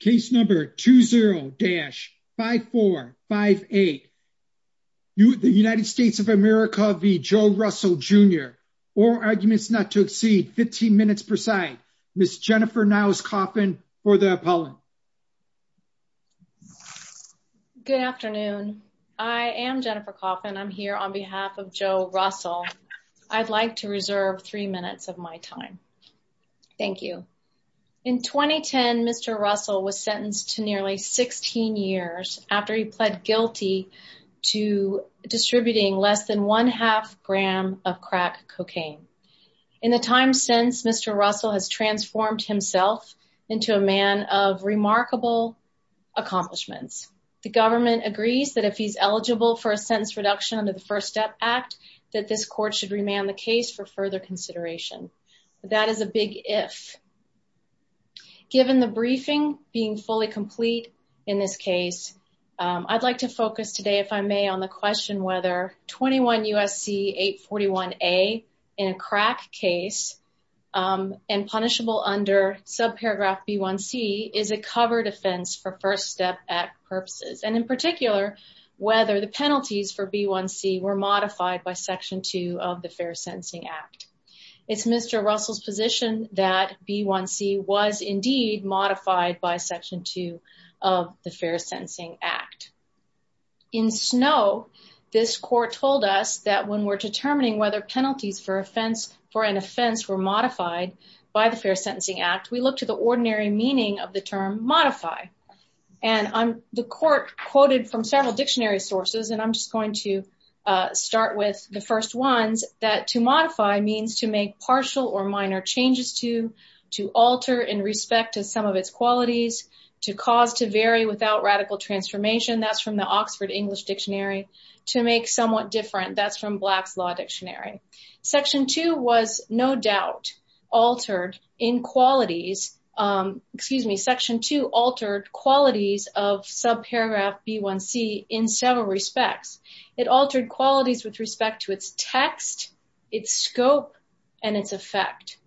Case number 20-5458. The United States of America v. Joe Russell Jr. All arguments not to exceed 15 minutes per side. Ms. Jennifer Niles Coffin for the appellant. Good afternoon. I am Jennifer Coffin. I'm here on behalf of Joe Russell. I'd like to reserve three minutes of my time. Thank you. In 2010, Mr. Russell was sentenced to nearly 16 years after he pled guilty to distributing less than one half gram of crack cocaine. In the time since, Mr. Russell has transformed himself into a man of remarkable accomplishments. The government agrees that if he's eligible for a sentence reduction under the First Step Act, that this court should remand the case for further consideration. That is a big if. Given the briefing being fully complete in this case, I'd like to focus today, if I may, on the question whether 21 U.S.C. 841a in a crack case and punishable under subparagraph B1c is a covered offense for First Step Act In particular, whether the penalties for B1c were modified by Section 2 of the Fair Sentencing Act. It's Mr. Russell's position that B1c was indeed modified by Section 2 of the Fair Sentencing Act. In Snow, this court told us that when we're determining whether penalties for an offense were modified by the Fair Sentencing Act, we look to the ordinary meaning of the term modify. And the court quoted from several dictionary sources, and I'm just going to start with the first ones, that to modify means to make partial or minor changes to, to alter in respect to some of its qualities, to cause to vary without radical transformation, that's from the Oxford English Dictionary, to make somewhat different, that's from Black's Law Section 2 was no doubt altered in qualities, excuse me, Section 2 altered qualities of subparagraph B1c in several respects. It altered qualities with respect to its text, its scope, and its effect.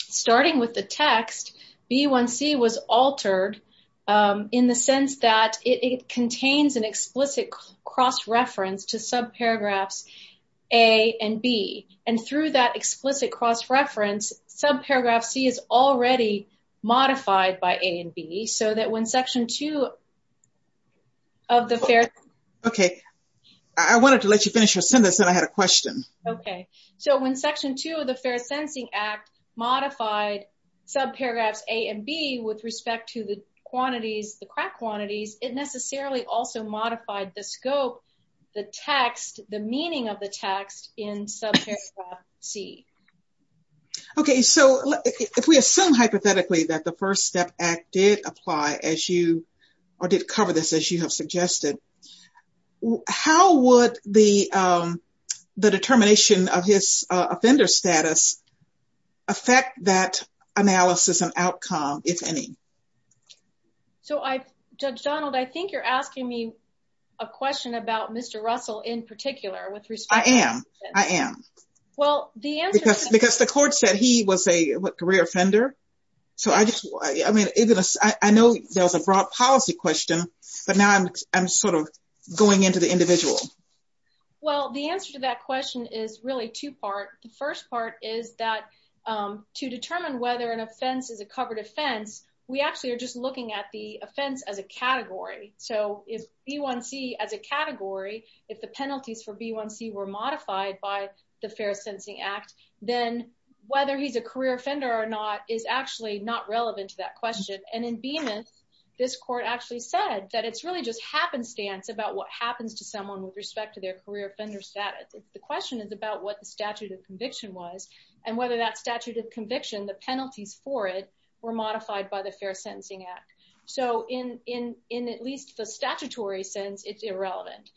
Starting with the text, B1c was altered in the sense that it contains an explicit cross-reference to subparagraphs A and B, and through that explicit cross-reference, subparagraph C is already modified by A and B, so that when Section 2 of the Fair... Okay, I wanted to let you finish your sentence and I had a question. Okay, so when Section 2 of the Fair Sentencing Act modified subparagraphs A and B with respect to the quantities, the crack quantities, it necessarily also modified the scope, the text, the meaning of the text in subparagraph C. Okay, so if we assume hypothetically that the First Step Act did apply as you, or did cover this as you have suggested, how would the determination of his offender status affect that analysis and outcome, if any? So, Judge Donald, I think you're asking me a question about Mr. Russell in particular with respect to... I am, I am. Well, the answer... Because the court said he was a career offender, so I just... I mean, I know there was a broad policy question, but now I'm sort of going into the individual. Well, the answer to that question is really two-part. The first part is that to determine whether an offense is a covered offense, we actually are just looking at the offense as a category. So, if B1C as a category, if the penalties for B1C were modified by the Fair Sentencing Act, then whether he's a career offender or not is actually not relevant to that question. And in Beemuth, this court actually said that it's really just happenstance about what happens to someone with respect to their career offender status. The question is about what the statute of conviction was and whether that statute of conviction, the penalties for it, were modified by the Fair Sentencing Act. So, in at least the statutory sense, it's irrelevant.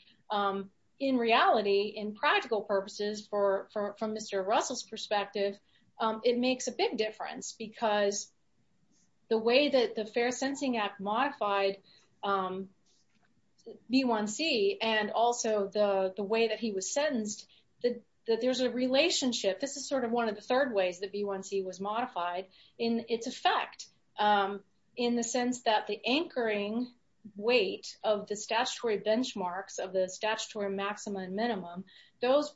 In reality, in practical purposes, from Mr. Russell's perspective, it makes a big difference because the way that the Fair Sentencing Act modified B1C and also the way that he was sentenced, that there's a relationship. This is sort of one of the third ways that B1C was modified in its effect in the sense that the anchoring weight of the statutory benchmarks of the statutory maximum and minimum, those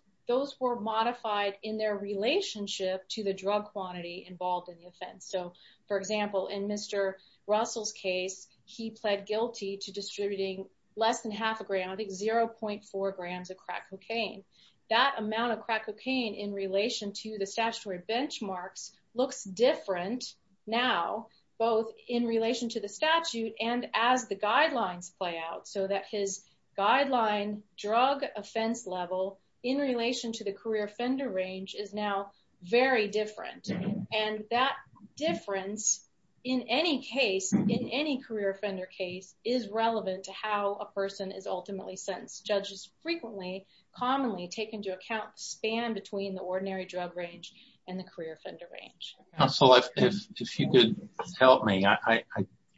were modified in their relationship to the drug quantity involved in the offense. So, for example, in Mr. Russell's case, he pled guilty to distributing less than half a gram, I think 0.4 grams of crack cocaine. That amount of crack cocaine in relation to the statutory benchmarks looks different now, both in relation to the statute and as the guidelines play out so that his guideline drug offense level in relation to the career offender range is now very different. And that difference in any case, in any career offender case, is relevant to how a person is ultimately sentenced. Judges frequently, commonly take into account the span between the ordinary drug range and the career offender range. Russell, if you could help me, I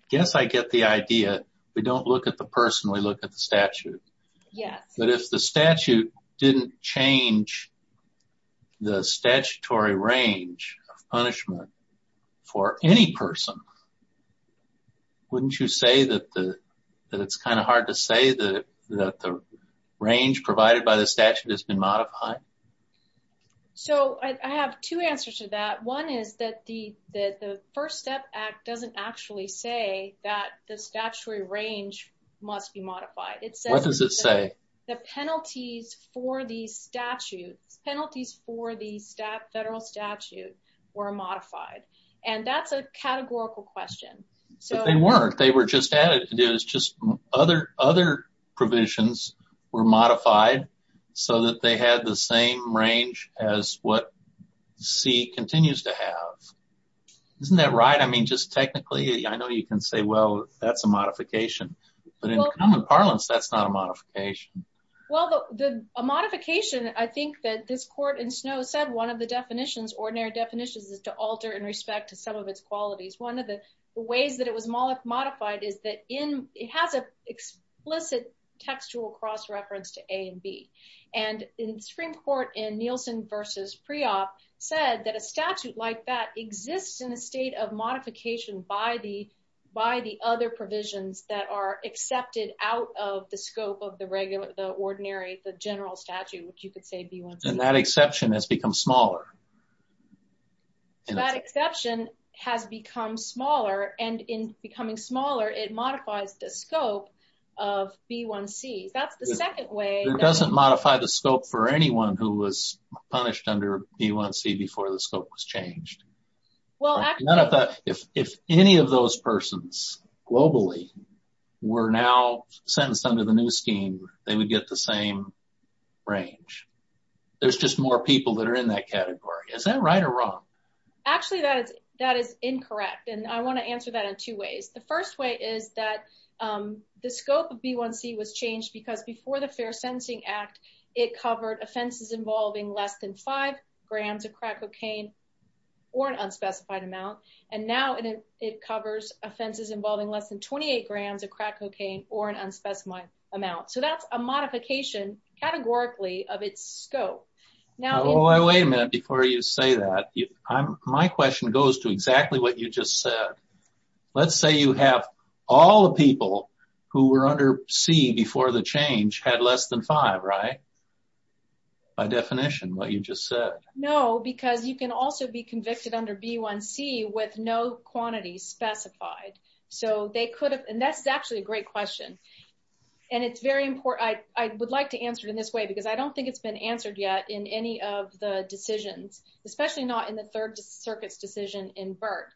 guess I get the idea. We don't look at the person, we look at the statute. Yes. But if the statute didn't change the statutory range of punishment for any person, wouldn't you say that it's kind of hard to say that the range provided by the statute has been modified? So, I have two answers to that. One is that the First Step Act doesn't actually say that the statutory range must be modified. What does it say? The penalties for the federal statute were modified. And that's a categorical question. But they weren't. They were just added. It was just other provisions were modified so that they had the same range as what C continues to have. Isn't that right? I mean, just technically, I know you can say, well, that's a modification. But in common parlance, that's not a modification. Well, a modification, I think that this court in Snow said one of the definitions, ordinary definitions, is to alter in respect to some of its qualities. One of the ways that it was modified is that it has an explicit textual cross-reference to A and B. And the Supreme Court in Nielsen v. Priop said that a statute like that exists in a of modification by the other provisions that are accepted out of the scope of the regular, the ordinary, the general statute, which you could say B1C. And that exception has become smaller. That exception has become smaller. And in becoming smaller, it modifies the scope of B1C. That's the second way. It doesn't modify the scope for anyone who was punished under B1C before the scope was changed. Well, if any of those persons globally were now sentenced under the new scheme, they would get the same range. There's just more people that are in that category. Is that right or wrong? Actually, that is incorrect. And I want to answer that in two ways. The first way is that the scope of B1C was changed because before the Fair Sentencing Act, it covered offenses involving less than five grams of crack cocaine or an unspecified amount. And now it covers offenses involving less than 28 grams of crack cocaine or an unspecified amount. So that's a modification, categorically, of its scope. Oh, wait a minute before you say that. My question goes to exactly what you just said. Let's say you have all the people who were under C before the change had less than five, right? By definition, what you just said. No, because you can also be convicted under B1C with no quantity specified. So they could have. And that's actually a great question. And it's very important. I would like to answer it in this way because I don't think it's been answered yet in any of the decisions, especially not in the Third Circuit's decision in Burt.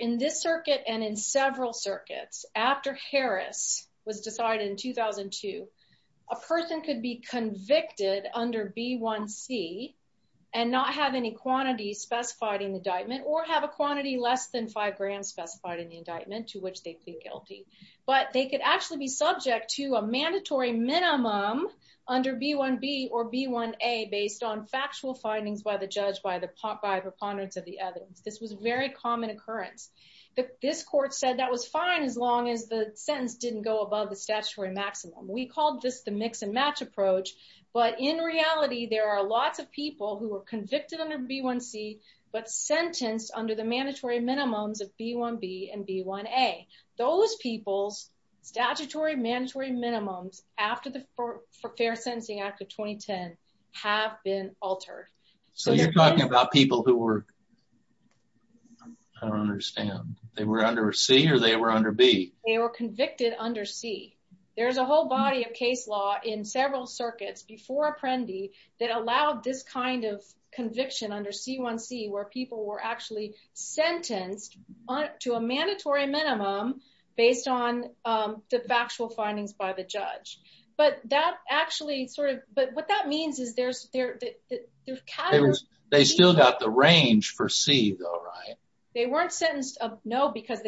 In this circuit and in several circuits after Harris was decided in 2002, a person could be convicted under B1C and not have any quantity specified in the indictment or have a quantity less than five grams specified in the indictment to which they plead guilty. But they could actually be subject to a mandatory minimum under B1B or B1A based on factual findings by the judge, by the proponents of the evidence. This was a very common occurrence. But this court said that was fine as long as the sentence didn't go above the statutory maximum. We called this the mix and match approach. But in reality, there are lots of people who were convicted under B1C but sentenced under the mandatory minimums of B1B and B1A. Those people's statutory mandatory minimums after the Fair Sentencing Act of 2010 have been altered. So you're talking about people who were, I don't understand, they were under C or they were under B? They were convicted under C. There's a whole body of case law in several circuits before Apprendi that allowed this kind of conviction under C1C where people were actually sentenced to a mandatory minimum based on the factual findings by the judge. But what that means is there's... They still got the range for C though, right? They weren't sentenced, no, because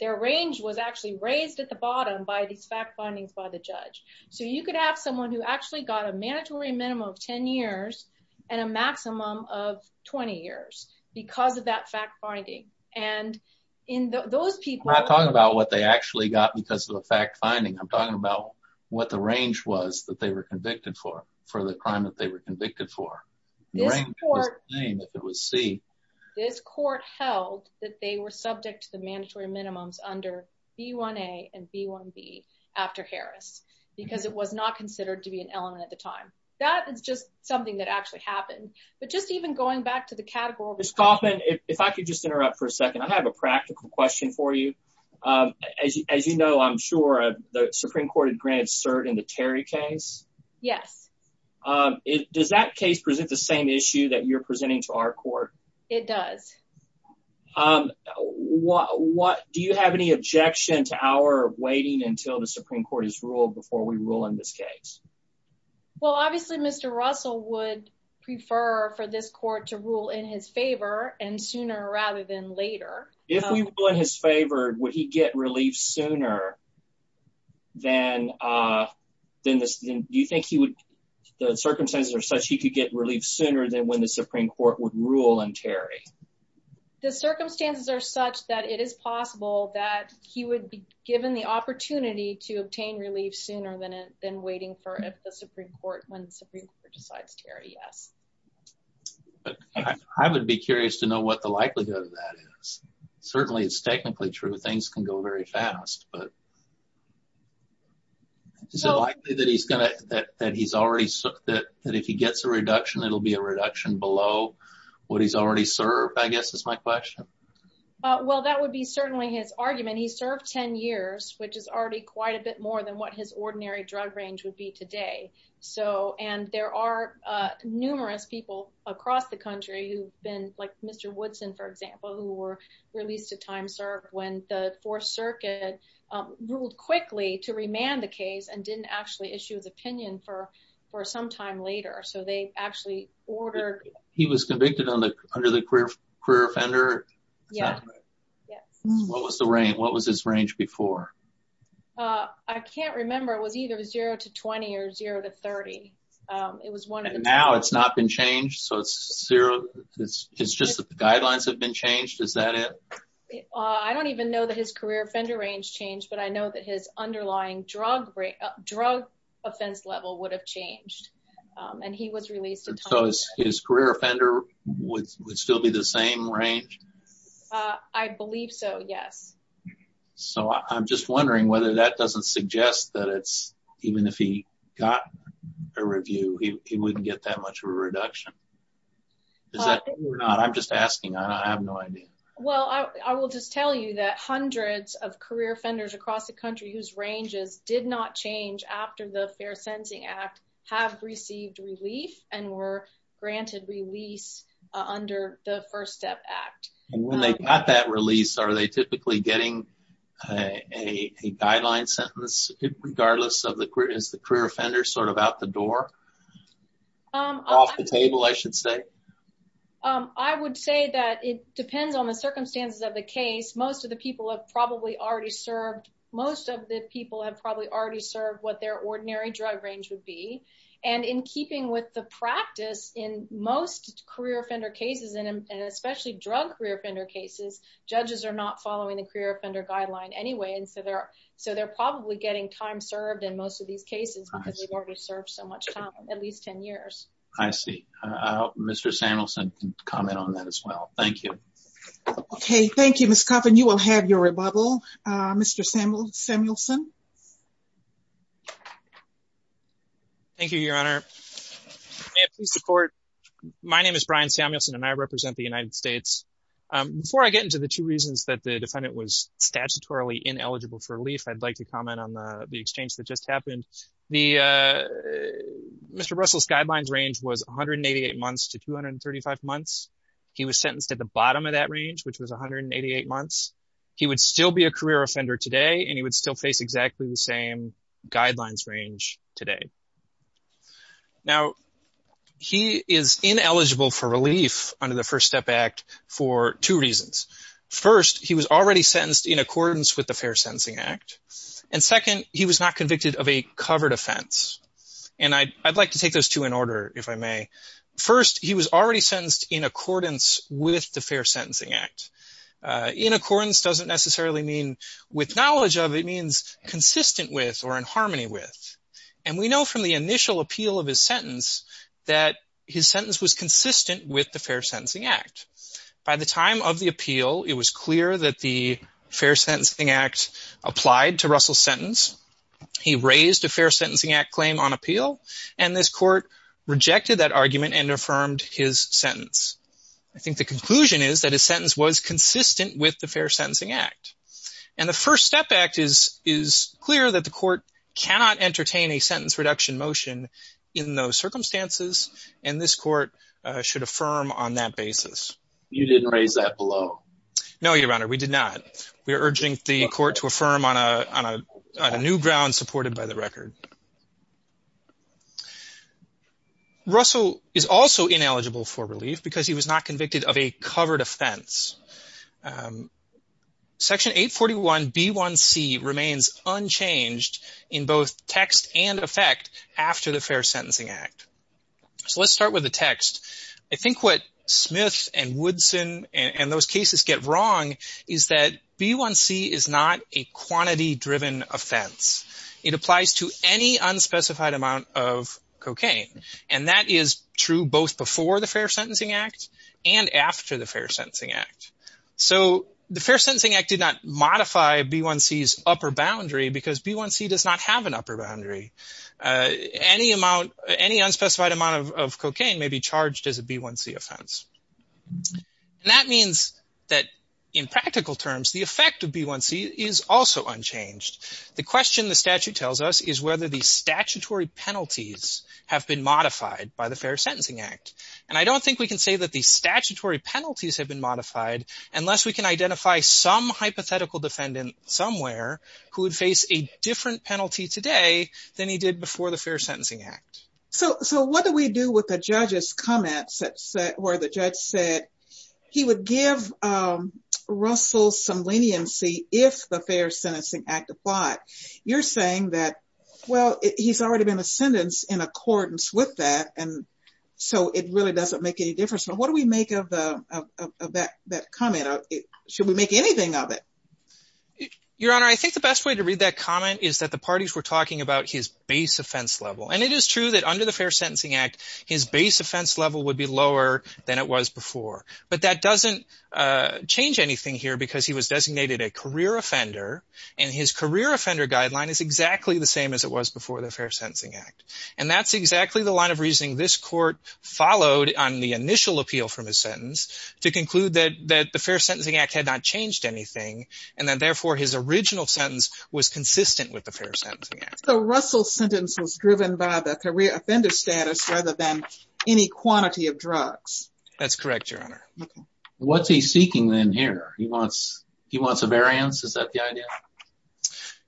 their range was actually raised at the bottom by these fact findings by the judge. So you could have someone who actually got a mandatory minimum of 10 years and a maximum of 20 years because of that fact finding. And in those people... I'm not talking about what they actually got because of the fact finding. I'm talking about what the range was that they were convicted for, for the crime that they were convicted for. The range was the same if it was C. This court held that they were subject to the mandatory minimums under B1A and B1B after Harris because it was not considered to be an element at the time. That is just something that actually happened. But just even going back to the category... Ms. Kaufman, if I could just interrupt for a second. I have a practical question for you. As you know, I'm sure the Supreme Court had granted cert in the Terry case. Yes. Does that case present the same issue that you're presenting to our court? It does. Do you have any objection to our waiting until the Supreme Court has ruled before we rule in this case? Well, obviously, Mr. Russell would prefer for this court to rule in his favor and sooner rather than later. If we rule in his favor, would he get relief sooner? Do you think the circumstances are such he could get relief sooner than when the Supreme Court would rule in Terry? The circumstances are such that it is possible that he would be given the opportunity to obtain relief sooner than waiting for when the Supreme Court decides Terry, yes. I would be curious to know what the likelihood of that is. Certainly, it's technically true. Things can go very fast, but is it likely that if he gets a reduction, it'll be a reduction below what he's already served, I guess is my question. Well, that would be certainly his argument. He served 10 years, which is already quite a bit more than what his ordinary drug range would be today. And there are numerous people across the country who've been, like Mr. Woodson, for example, who were released to time served when the Fourth Circuit ruled quickly to remand the case and didn't actually issue his opinion for some time later. So they actually ordered- He was convicted under the career offender? Yeah, yes. What was the range? What was his range before? I can't remember. It was either 0 to 20 or 0 to 30. And now it's not been changed? It's just that the guidelines have been changed? Is that it? I don't even know that his career offender range changed, but I know that his underlying drug offense level would have changed. And he was released- So his career offender would still be the same range? I believe so, yes. So I'm just wondering whether that doesn't suggest that even if he got a review, he wouldn't get that much of a reduction. Is that true or not? I'm just asking. I have no idea. Well, I will just tell you that hundreds of career offenders across the country whose ranges did not change after the Fair Sentencing Act have received relief and were granted release under the First Step Act. And when they got that release, are they typically getting a guideline sentence regardless of the career? Is the career offender sort of out the door? Off the table, I should say. I would say that it depends on the circumstances of the case. Most of the people have probably already served what their ordinary drug range would be. And in keeping with the practice, in most career offender cases, and especially drug career offender cases, judges are not following the career offender guideline anyway. And so they're probably getting time served in most of these cases because they've already served so much time, at least 10 years. I see. Mr. Samuelson can comment on that as well. Thank you. Okay. Thank you, Ms. Coffin. You will have your rebuttal, Mr. Samuelson. Thank you, Your Honor. May it please the Court. My name is Brian Samuelson, and I represent the United States. Before I get into the two reasons that the defendant was statutorily ineligible for relief, I'd like to comment on the exchange that just happened. Mr. Russell's guidelines range was 188 months to 235 months. He was sentenced at the bottom of that range, which was 188 months. He would still be a career offender today, and he would still face exactly the same guidelines range today. Now, he is ineligible for relief under the First Step Act for two reasons. First, he was already sentenced in accordance with the Fair Sentencing Act. And second, he was not convicted of a covered offense. And I'd like to take those two in order, if I may. First, he was already sentenced in accordance with the Fair Sentencing Act. In accordance doesn't necessarily mean with knowledge of. It means consistent with or in harmony with. And we know from the initial appeal of his sentence that his sentence was consistent with the Fair Sentencing Act. By the time of the appeal, it was clear that the Fair Sentencing Act applied to Russell's sentence. He raised a Fair Sentencing Act claim on appeal, and this court rejected that argument and affirmed his sentence. I think the conclusion is that his sentence was consistent with the Fair Sentencing Act. And the First Step Act is clear that the court cannot entertain a sentence reduction motion in those circumstances, and this court should affirm on that basis. You didn't raise that below? No, Your Honor, we did not. We are urging the court to affirm on a new ground supported by the record. Russell is also ineligible for relief because he was not convicted of a covered offense. Section 841B1C remains unchanged in both text and effect after the Fair Sentencing Act. I think what Smith and Woodson and those cases get wrong is that B1C is not a quantity-driven offense. It applies to any unspecified amount of cocaine, and that is true both before the Fair Sentencing Act and after the Fair Sentencing Act. So the Fair Sentencing Act did not modify B1C's upper boundary because B1C does not have an upper boundary. Any unspecified amount of cocaine may be charged as a B1C offense, and that means that in practical terms, the effect of B1C is also unchanged. The question the statute tells us is whether the statutory penalties have been modified by the Fair Sentencing Act, and I don't think we can say that the statutory penalties have been modified unless we can identify some hypothetical defendant somewhere who would a different penalty today than he did before the Fair Sentencing Act. So what do we do with the judge's comments where the judge said he would give Russell some leniency if the Fair Sentencing Act applied? You're saying that, well, he's already been sentenced in accordance with that, and so it really doesn't make any difference. So what do we make of that comment? Should we make anything of it? Your Honor, I think the best way to read that comment is that the parties were talking about his base offense level. And it is true that under the Fair Sentencing Act, his base offense level would be lower than it was before. But that doesn't change anything here because he was designated a career offender, and his career offender guideline is exactly the same as it was before the Fair Sentencing Act. And that's exactly the line of reasoning this court followed on the initial appeal from to conclude that the Fair Sentencing Act had not changed anything, and that therefore his original sentence was consistent with the Fair Sentencing Act. So Russell's sentence was driven by the career offender status rather than any quantity of drugs? That's correct, Your Honor. What's he seeking then here? He wants a variance? Is that the idea?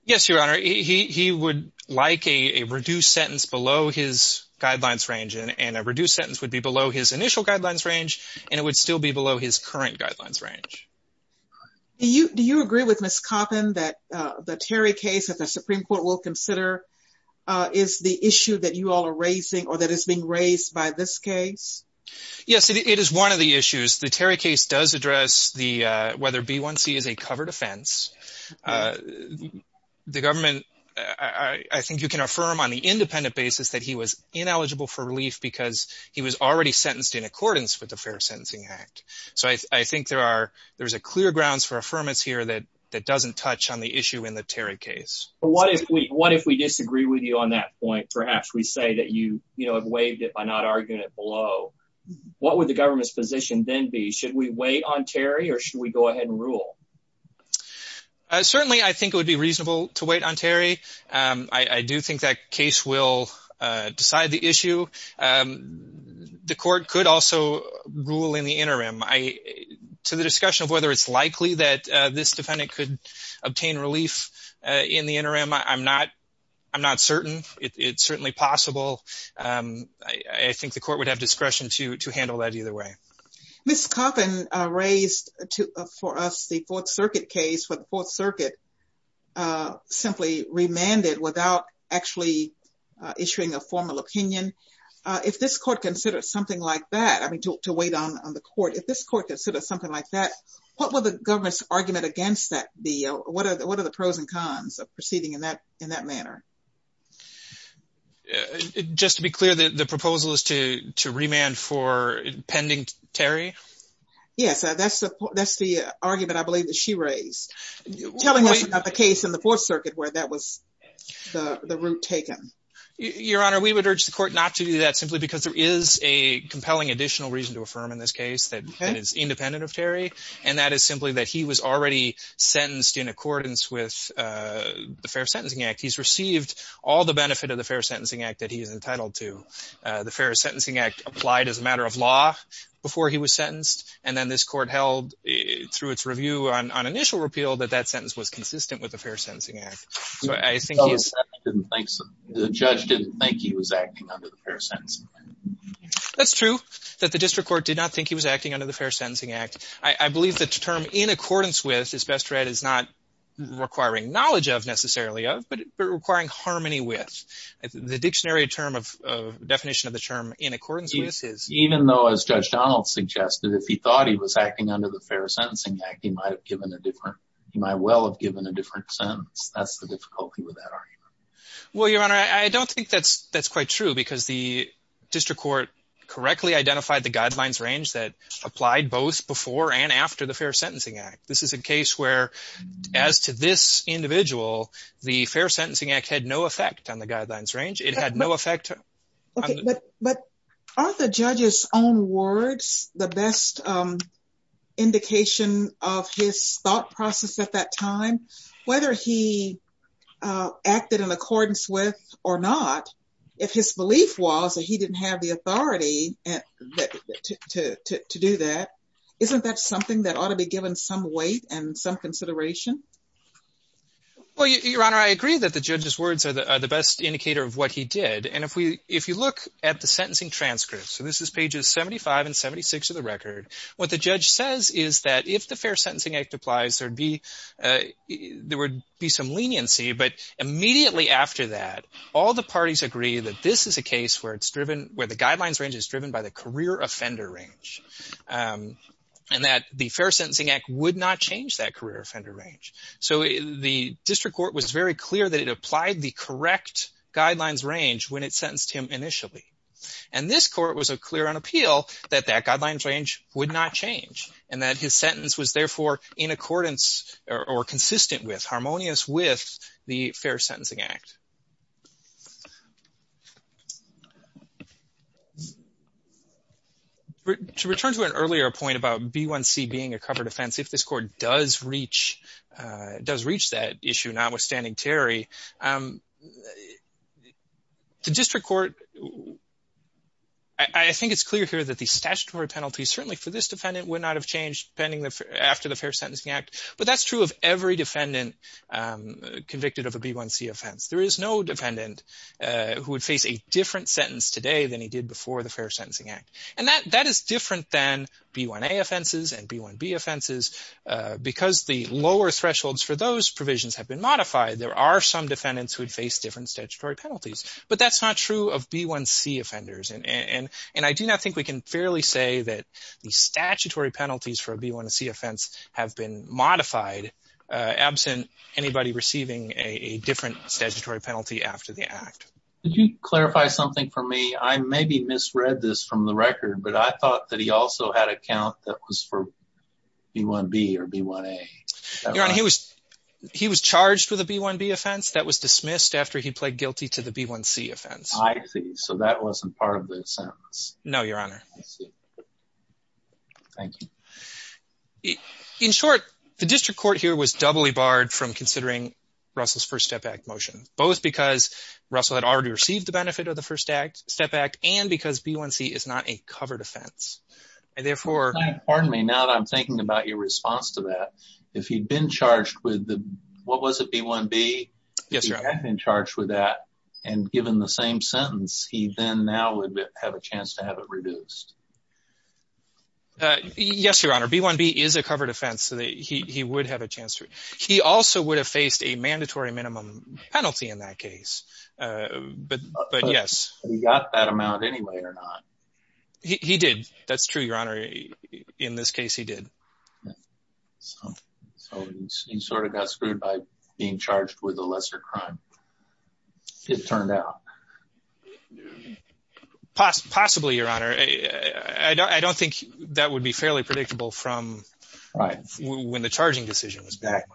Yes, Your Honor. He would like a reduced sentence below his guidelines range, and a reduced sentence would be below his initial guidelines range, and it would still be below his current guidelines range. Do you agree with Ms. Coppin that the Terry case that the Supreme Court will consider is the issue that you all are raising or that is being raised by this case? Yes, it is one of the issues. The Terry case does address whether B1C is a covered offense. The government, I think you can affirm on the independent basis that he was ineligible for in accordance with the Fair Sentencing Act. So I think there are clear grounds for affirmance here that doesn't touch on the issue in the Terry case. What if we disagree with you on that point? Perhaps we say that you have waived it by not arguing it below. What would the government's position then be? Should we wait on Terry, or should we go ahead and rule? Certainly, I think it would be reasonable to wait on Terry. I do think that case will decide the issue. The court could also rule in the interim. To the discussion of whether it's likely that this defendant could obtain relief in the interim, I'm not certain. It's certainly possible. I think the court would have discretion to handle that either way. Ms. Coppin raised for us the Fourth Circuit case, but the Fourth Circuit simply remanded without actually issuing a formal opinion. If this court considered something like that, I mean, to wait on the court, if this court considered something like that, what would the government's argument against that be? What are the pros and cons of proceeding in that manner? Just to be clear, the proposal is to remand for pending Terry? Yes, that's the argument I believe that she raised. Telling us about the case in the Fourth Circuit where that was the route taken. Your Honor, we would urge the court not to do that simply because there is a compelling additional reason to affirm in this case that is independent of Terry, and that is simply that he was already sentenced in accordance with the Fair Sentencing Act. He's received all the benefit of the Fair Sentencing Act that he is entitled to. The Fair Sentencing Act applied as a matter of law before he was sentenced, and then this court held through its review on initial repeal that that sentence was consistent with the Fair Sentencing Act. So, I think he's... So, the judge didn't think he was acting under the Fair Sentencing Act. That's true, that the district court did not think he was acting under the Fair Sentencing Act. I believe the term in accordance with, as best read, is not requiring knowledge of necessarily of, but requiring harmony with. The dictionary definition of the term in accordance with is... Even though, as Judge Donald suggested, if he thought he was acting under the Fair Sentencing Act, he might have given a different... He might well have given a different sentence. That's the difficulty with that argument. Well, Your Honor, I don't think that's quite true because the district court correctly identified the guidelines range that applied both before and after the Fair Sentencing Act. This is a case where, as to this individual, the Fair Sentencing Act had no effect on the guidelines range. It had no effect... But are the judge's own words the best indication of his thought process at that time? Whether he acted in accordance with or not, if his belief was that he didn't have the authority to do that, isn't that something that ought to be given some weight and some consideration? Well, Your Honor, I agree that the judge's words are the best indicator of what he did. And if you look at the sentencing transcripts, so this is pages 75 and 76 of the record, what the judge says is that if the Fair Sentencing Act applies, there would be some leniency. But immediately after that, all the parties agree that this is a case where the guidelines range is driven by the career offender range, and that the Fair Sentencing Act would not change that career offender range. So the district court was very clear that it applied the correct guidelines range when it sentenced him initially. And this court was clear on appeal that that guidelines range would not change, and that his sentence was therefore in accordance or consistent with, harmonious with the Fair Sentencing Act. To return to an earlier point about B1c being a covered offense, if this court does reach does reach that issue, notwithstanding Terry, the district court, I think it's clear here that the statutory penalty certainly for this defendant would not have changed pending after the Fair Sentencing Act. But that's true of every defendant convicted of a B1c offense. There is no defendant who would face a different sentence today than he did before the Fair Sentencing Act. And that is different than B1a offenses and B1b offenses, because the lower thresholds for those provisions have been modified, there are some defendants who would face different statutory penalties. But that's not true of B1c offenders, and I do not think we can fairly say that the statutory penalties for a B1c offense have been modified absent anybody receiving a different statutory penalty after the Act. Did you clarify something for me? I maybe misread this from the record, but I thought that he also had a count that was for B1b or B1a. Your Honor, he was charged with a B1b offense that was dismissed after he pled guilty to the B1c offense. I see. So that wasn't part of the sentence. No, Your Honor. Thank you. In short, the district court here was doubly barred from considering Russell's First Step Act motion, both because Russell had already received the benefit of the First Step Act, and because B1c is not a covered offense. And therefore... Pardon me, now that I'm thinking about your response to that, if he'd been charged with the... What was it, B1b? Yes, Your Honor. If he had been charged with that, and given the same sentence, he then now would have a chance to have it reduced. Yes, Your Honor. B1b is a covered offense, so he would have a chance to... He also would have faced a mandatory minimum penalty in that case, but yes. He got that amount anyway or not? He did. That's true, Your Honor. In this case, he did. So he sort of got screwed by being charged with a lesser crime. It turned out. Possibly, Your Honor. I don't think that would be fairly predictable from... Right. When the charging decision was back.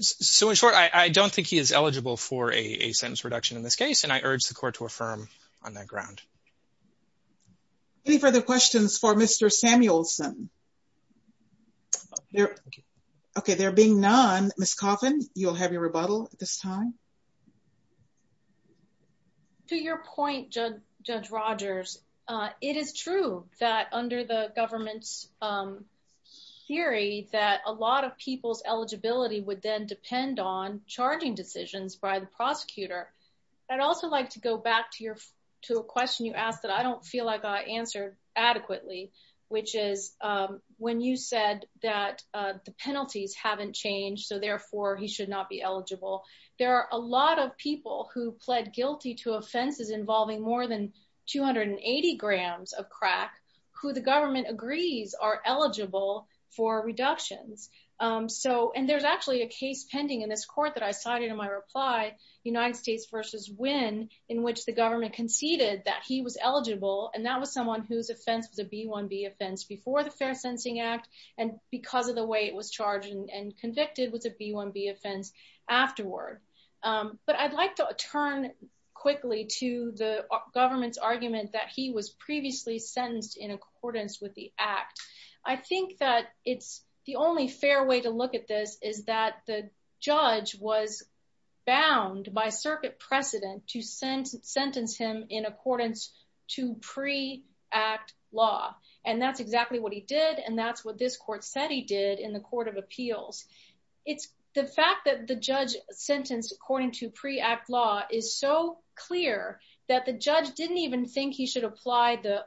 So in short, I don't think he is eligible for a sentence reduction in this case, and I urge the court to affirm on that ground. Any further questions for Mr. Samuelson? Okay, there being none, Ms. Coffin, you'll have your rebuttal at this time. To your point, Judge Rogers, it is true that under the government's theory that a lot of people's eligibility would then depend on charging decisions by the prosecutor. I'd also like to go back to a question you asked that I don't feel like I answered adequately, which is when you said that the penalties haven't changed, so therefore he should not be eligible. There are a lot of people who pled guilty to offenses involving more than 280 grams of crack who the government agrees are eligible for reductions. And there's actually a case pending in this court that I cited in my reply, United States v. Wynne, in which the government conceded that he was eligible, and that was someone whose offense was a B-1B offense before the Fair Sensing Act, and because of the way it was charged and convicted was a B-1B offense afterward. But I'd like to turn quickly to the government's argument that he was previously sentenced in accordance with the act. I think that it's the only fair way to look at this is that the judge was bound by circuit precedent to sentence him in accordance to pre-act law, and that's exactly what he did, and that's what this court said he did in the Court of Appeals. It's the fact that the judge sentenced according to pre-act law is so clear that the judge didn't even think he should apply the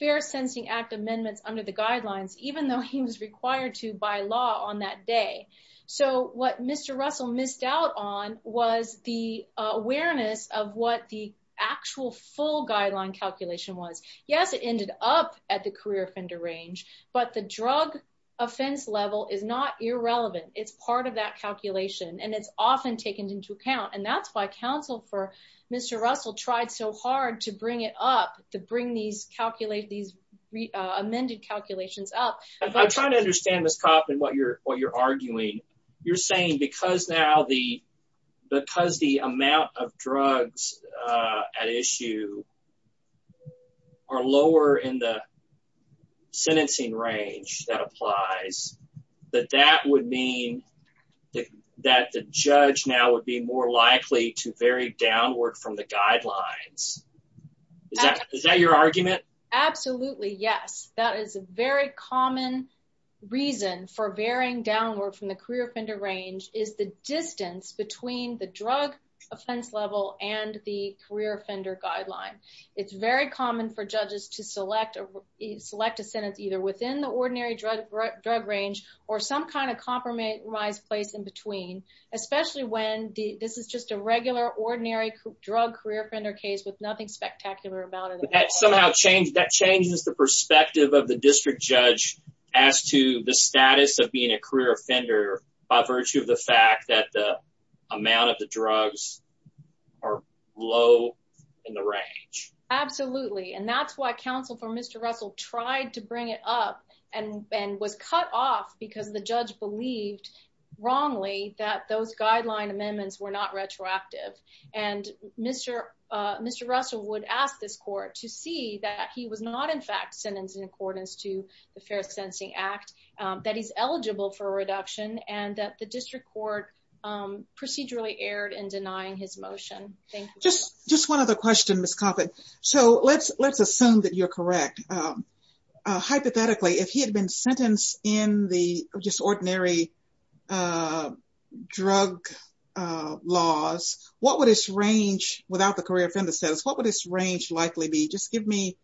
Fair Sensing Act amendments under the guidelines, even though he was required to by law on that day. So what Mr. Russell missed out on was the awareness of what the actual full guideline calculation was. Yes, it ended up at the career offender range, but the it's part of that calculation, and it's often taken into account, and that's why counsel for Mr. Russell tried so hard to bring it up, to bring these amended calculations up. I'm trying to understand, Ms. Kopp, and what you're arguing. You're saying because now the amount of drugs at issue are lower in the sentencing range that applies, that that would mean that the judge now would be more likely to vary downward from the guidelines. Is that your argument? Absolutely, yes. That is a very common reason for varying downward from the career drug offense level and the career offender guideline. It's very common for judges to select a sentence either within the ordinary drug range or some kind of compromise place in between, especially when this is just a regular ordinary drug career offender case with nothing spectacular about it. That somehow changes the perspective of the district judge as to the status of being a fact that the amount of the drugs are low in the range. Absolutely, and that's why counsel for Mr. Russell tried to bring it up and was cut off because the judge believed wrongly that those guideline amendments were not retroactive, and Mr. Russell would ask this court to see that he was not in fact sentenced in accordance to the Fair Sentencing Act, that he's eligible for a reduction, and that the district court procedurally erred in denying his motion. Thank you. Just one other question, Ms. Coffin. So let's assume that you're correct. Hypothetically, if he had been sentenced in the just ordinary drug laws, what would his range without the career offender status, range likely be? Just give me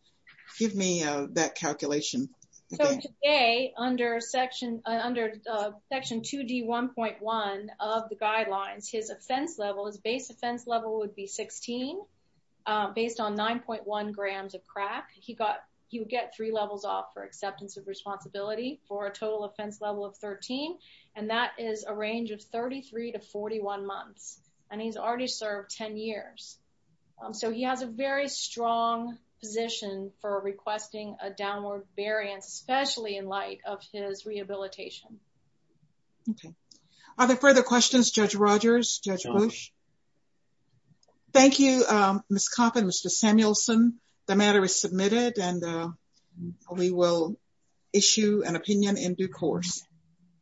that calculation. So today, under Section 2D1.1 of the guidelines, his offense level, his base offense level would be 16 based on 9.1 grams of crack. He would get three levels off for acceptance of responsibility for a total offense level of 13, and that is a So he has a very strong position for requesting a downward variance, especially in light of his rehabilitation. Okay. Are there further questions, Judge Rogers, Judge Bush? Thank you, Ms. Coffin, Mr. Samuelson. The matter is submitted, and we will issue an opinion in due course.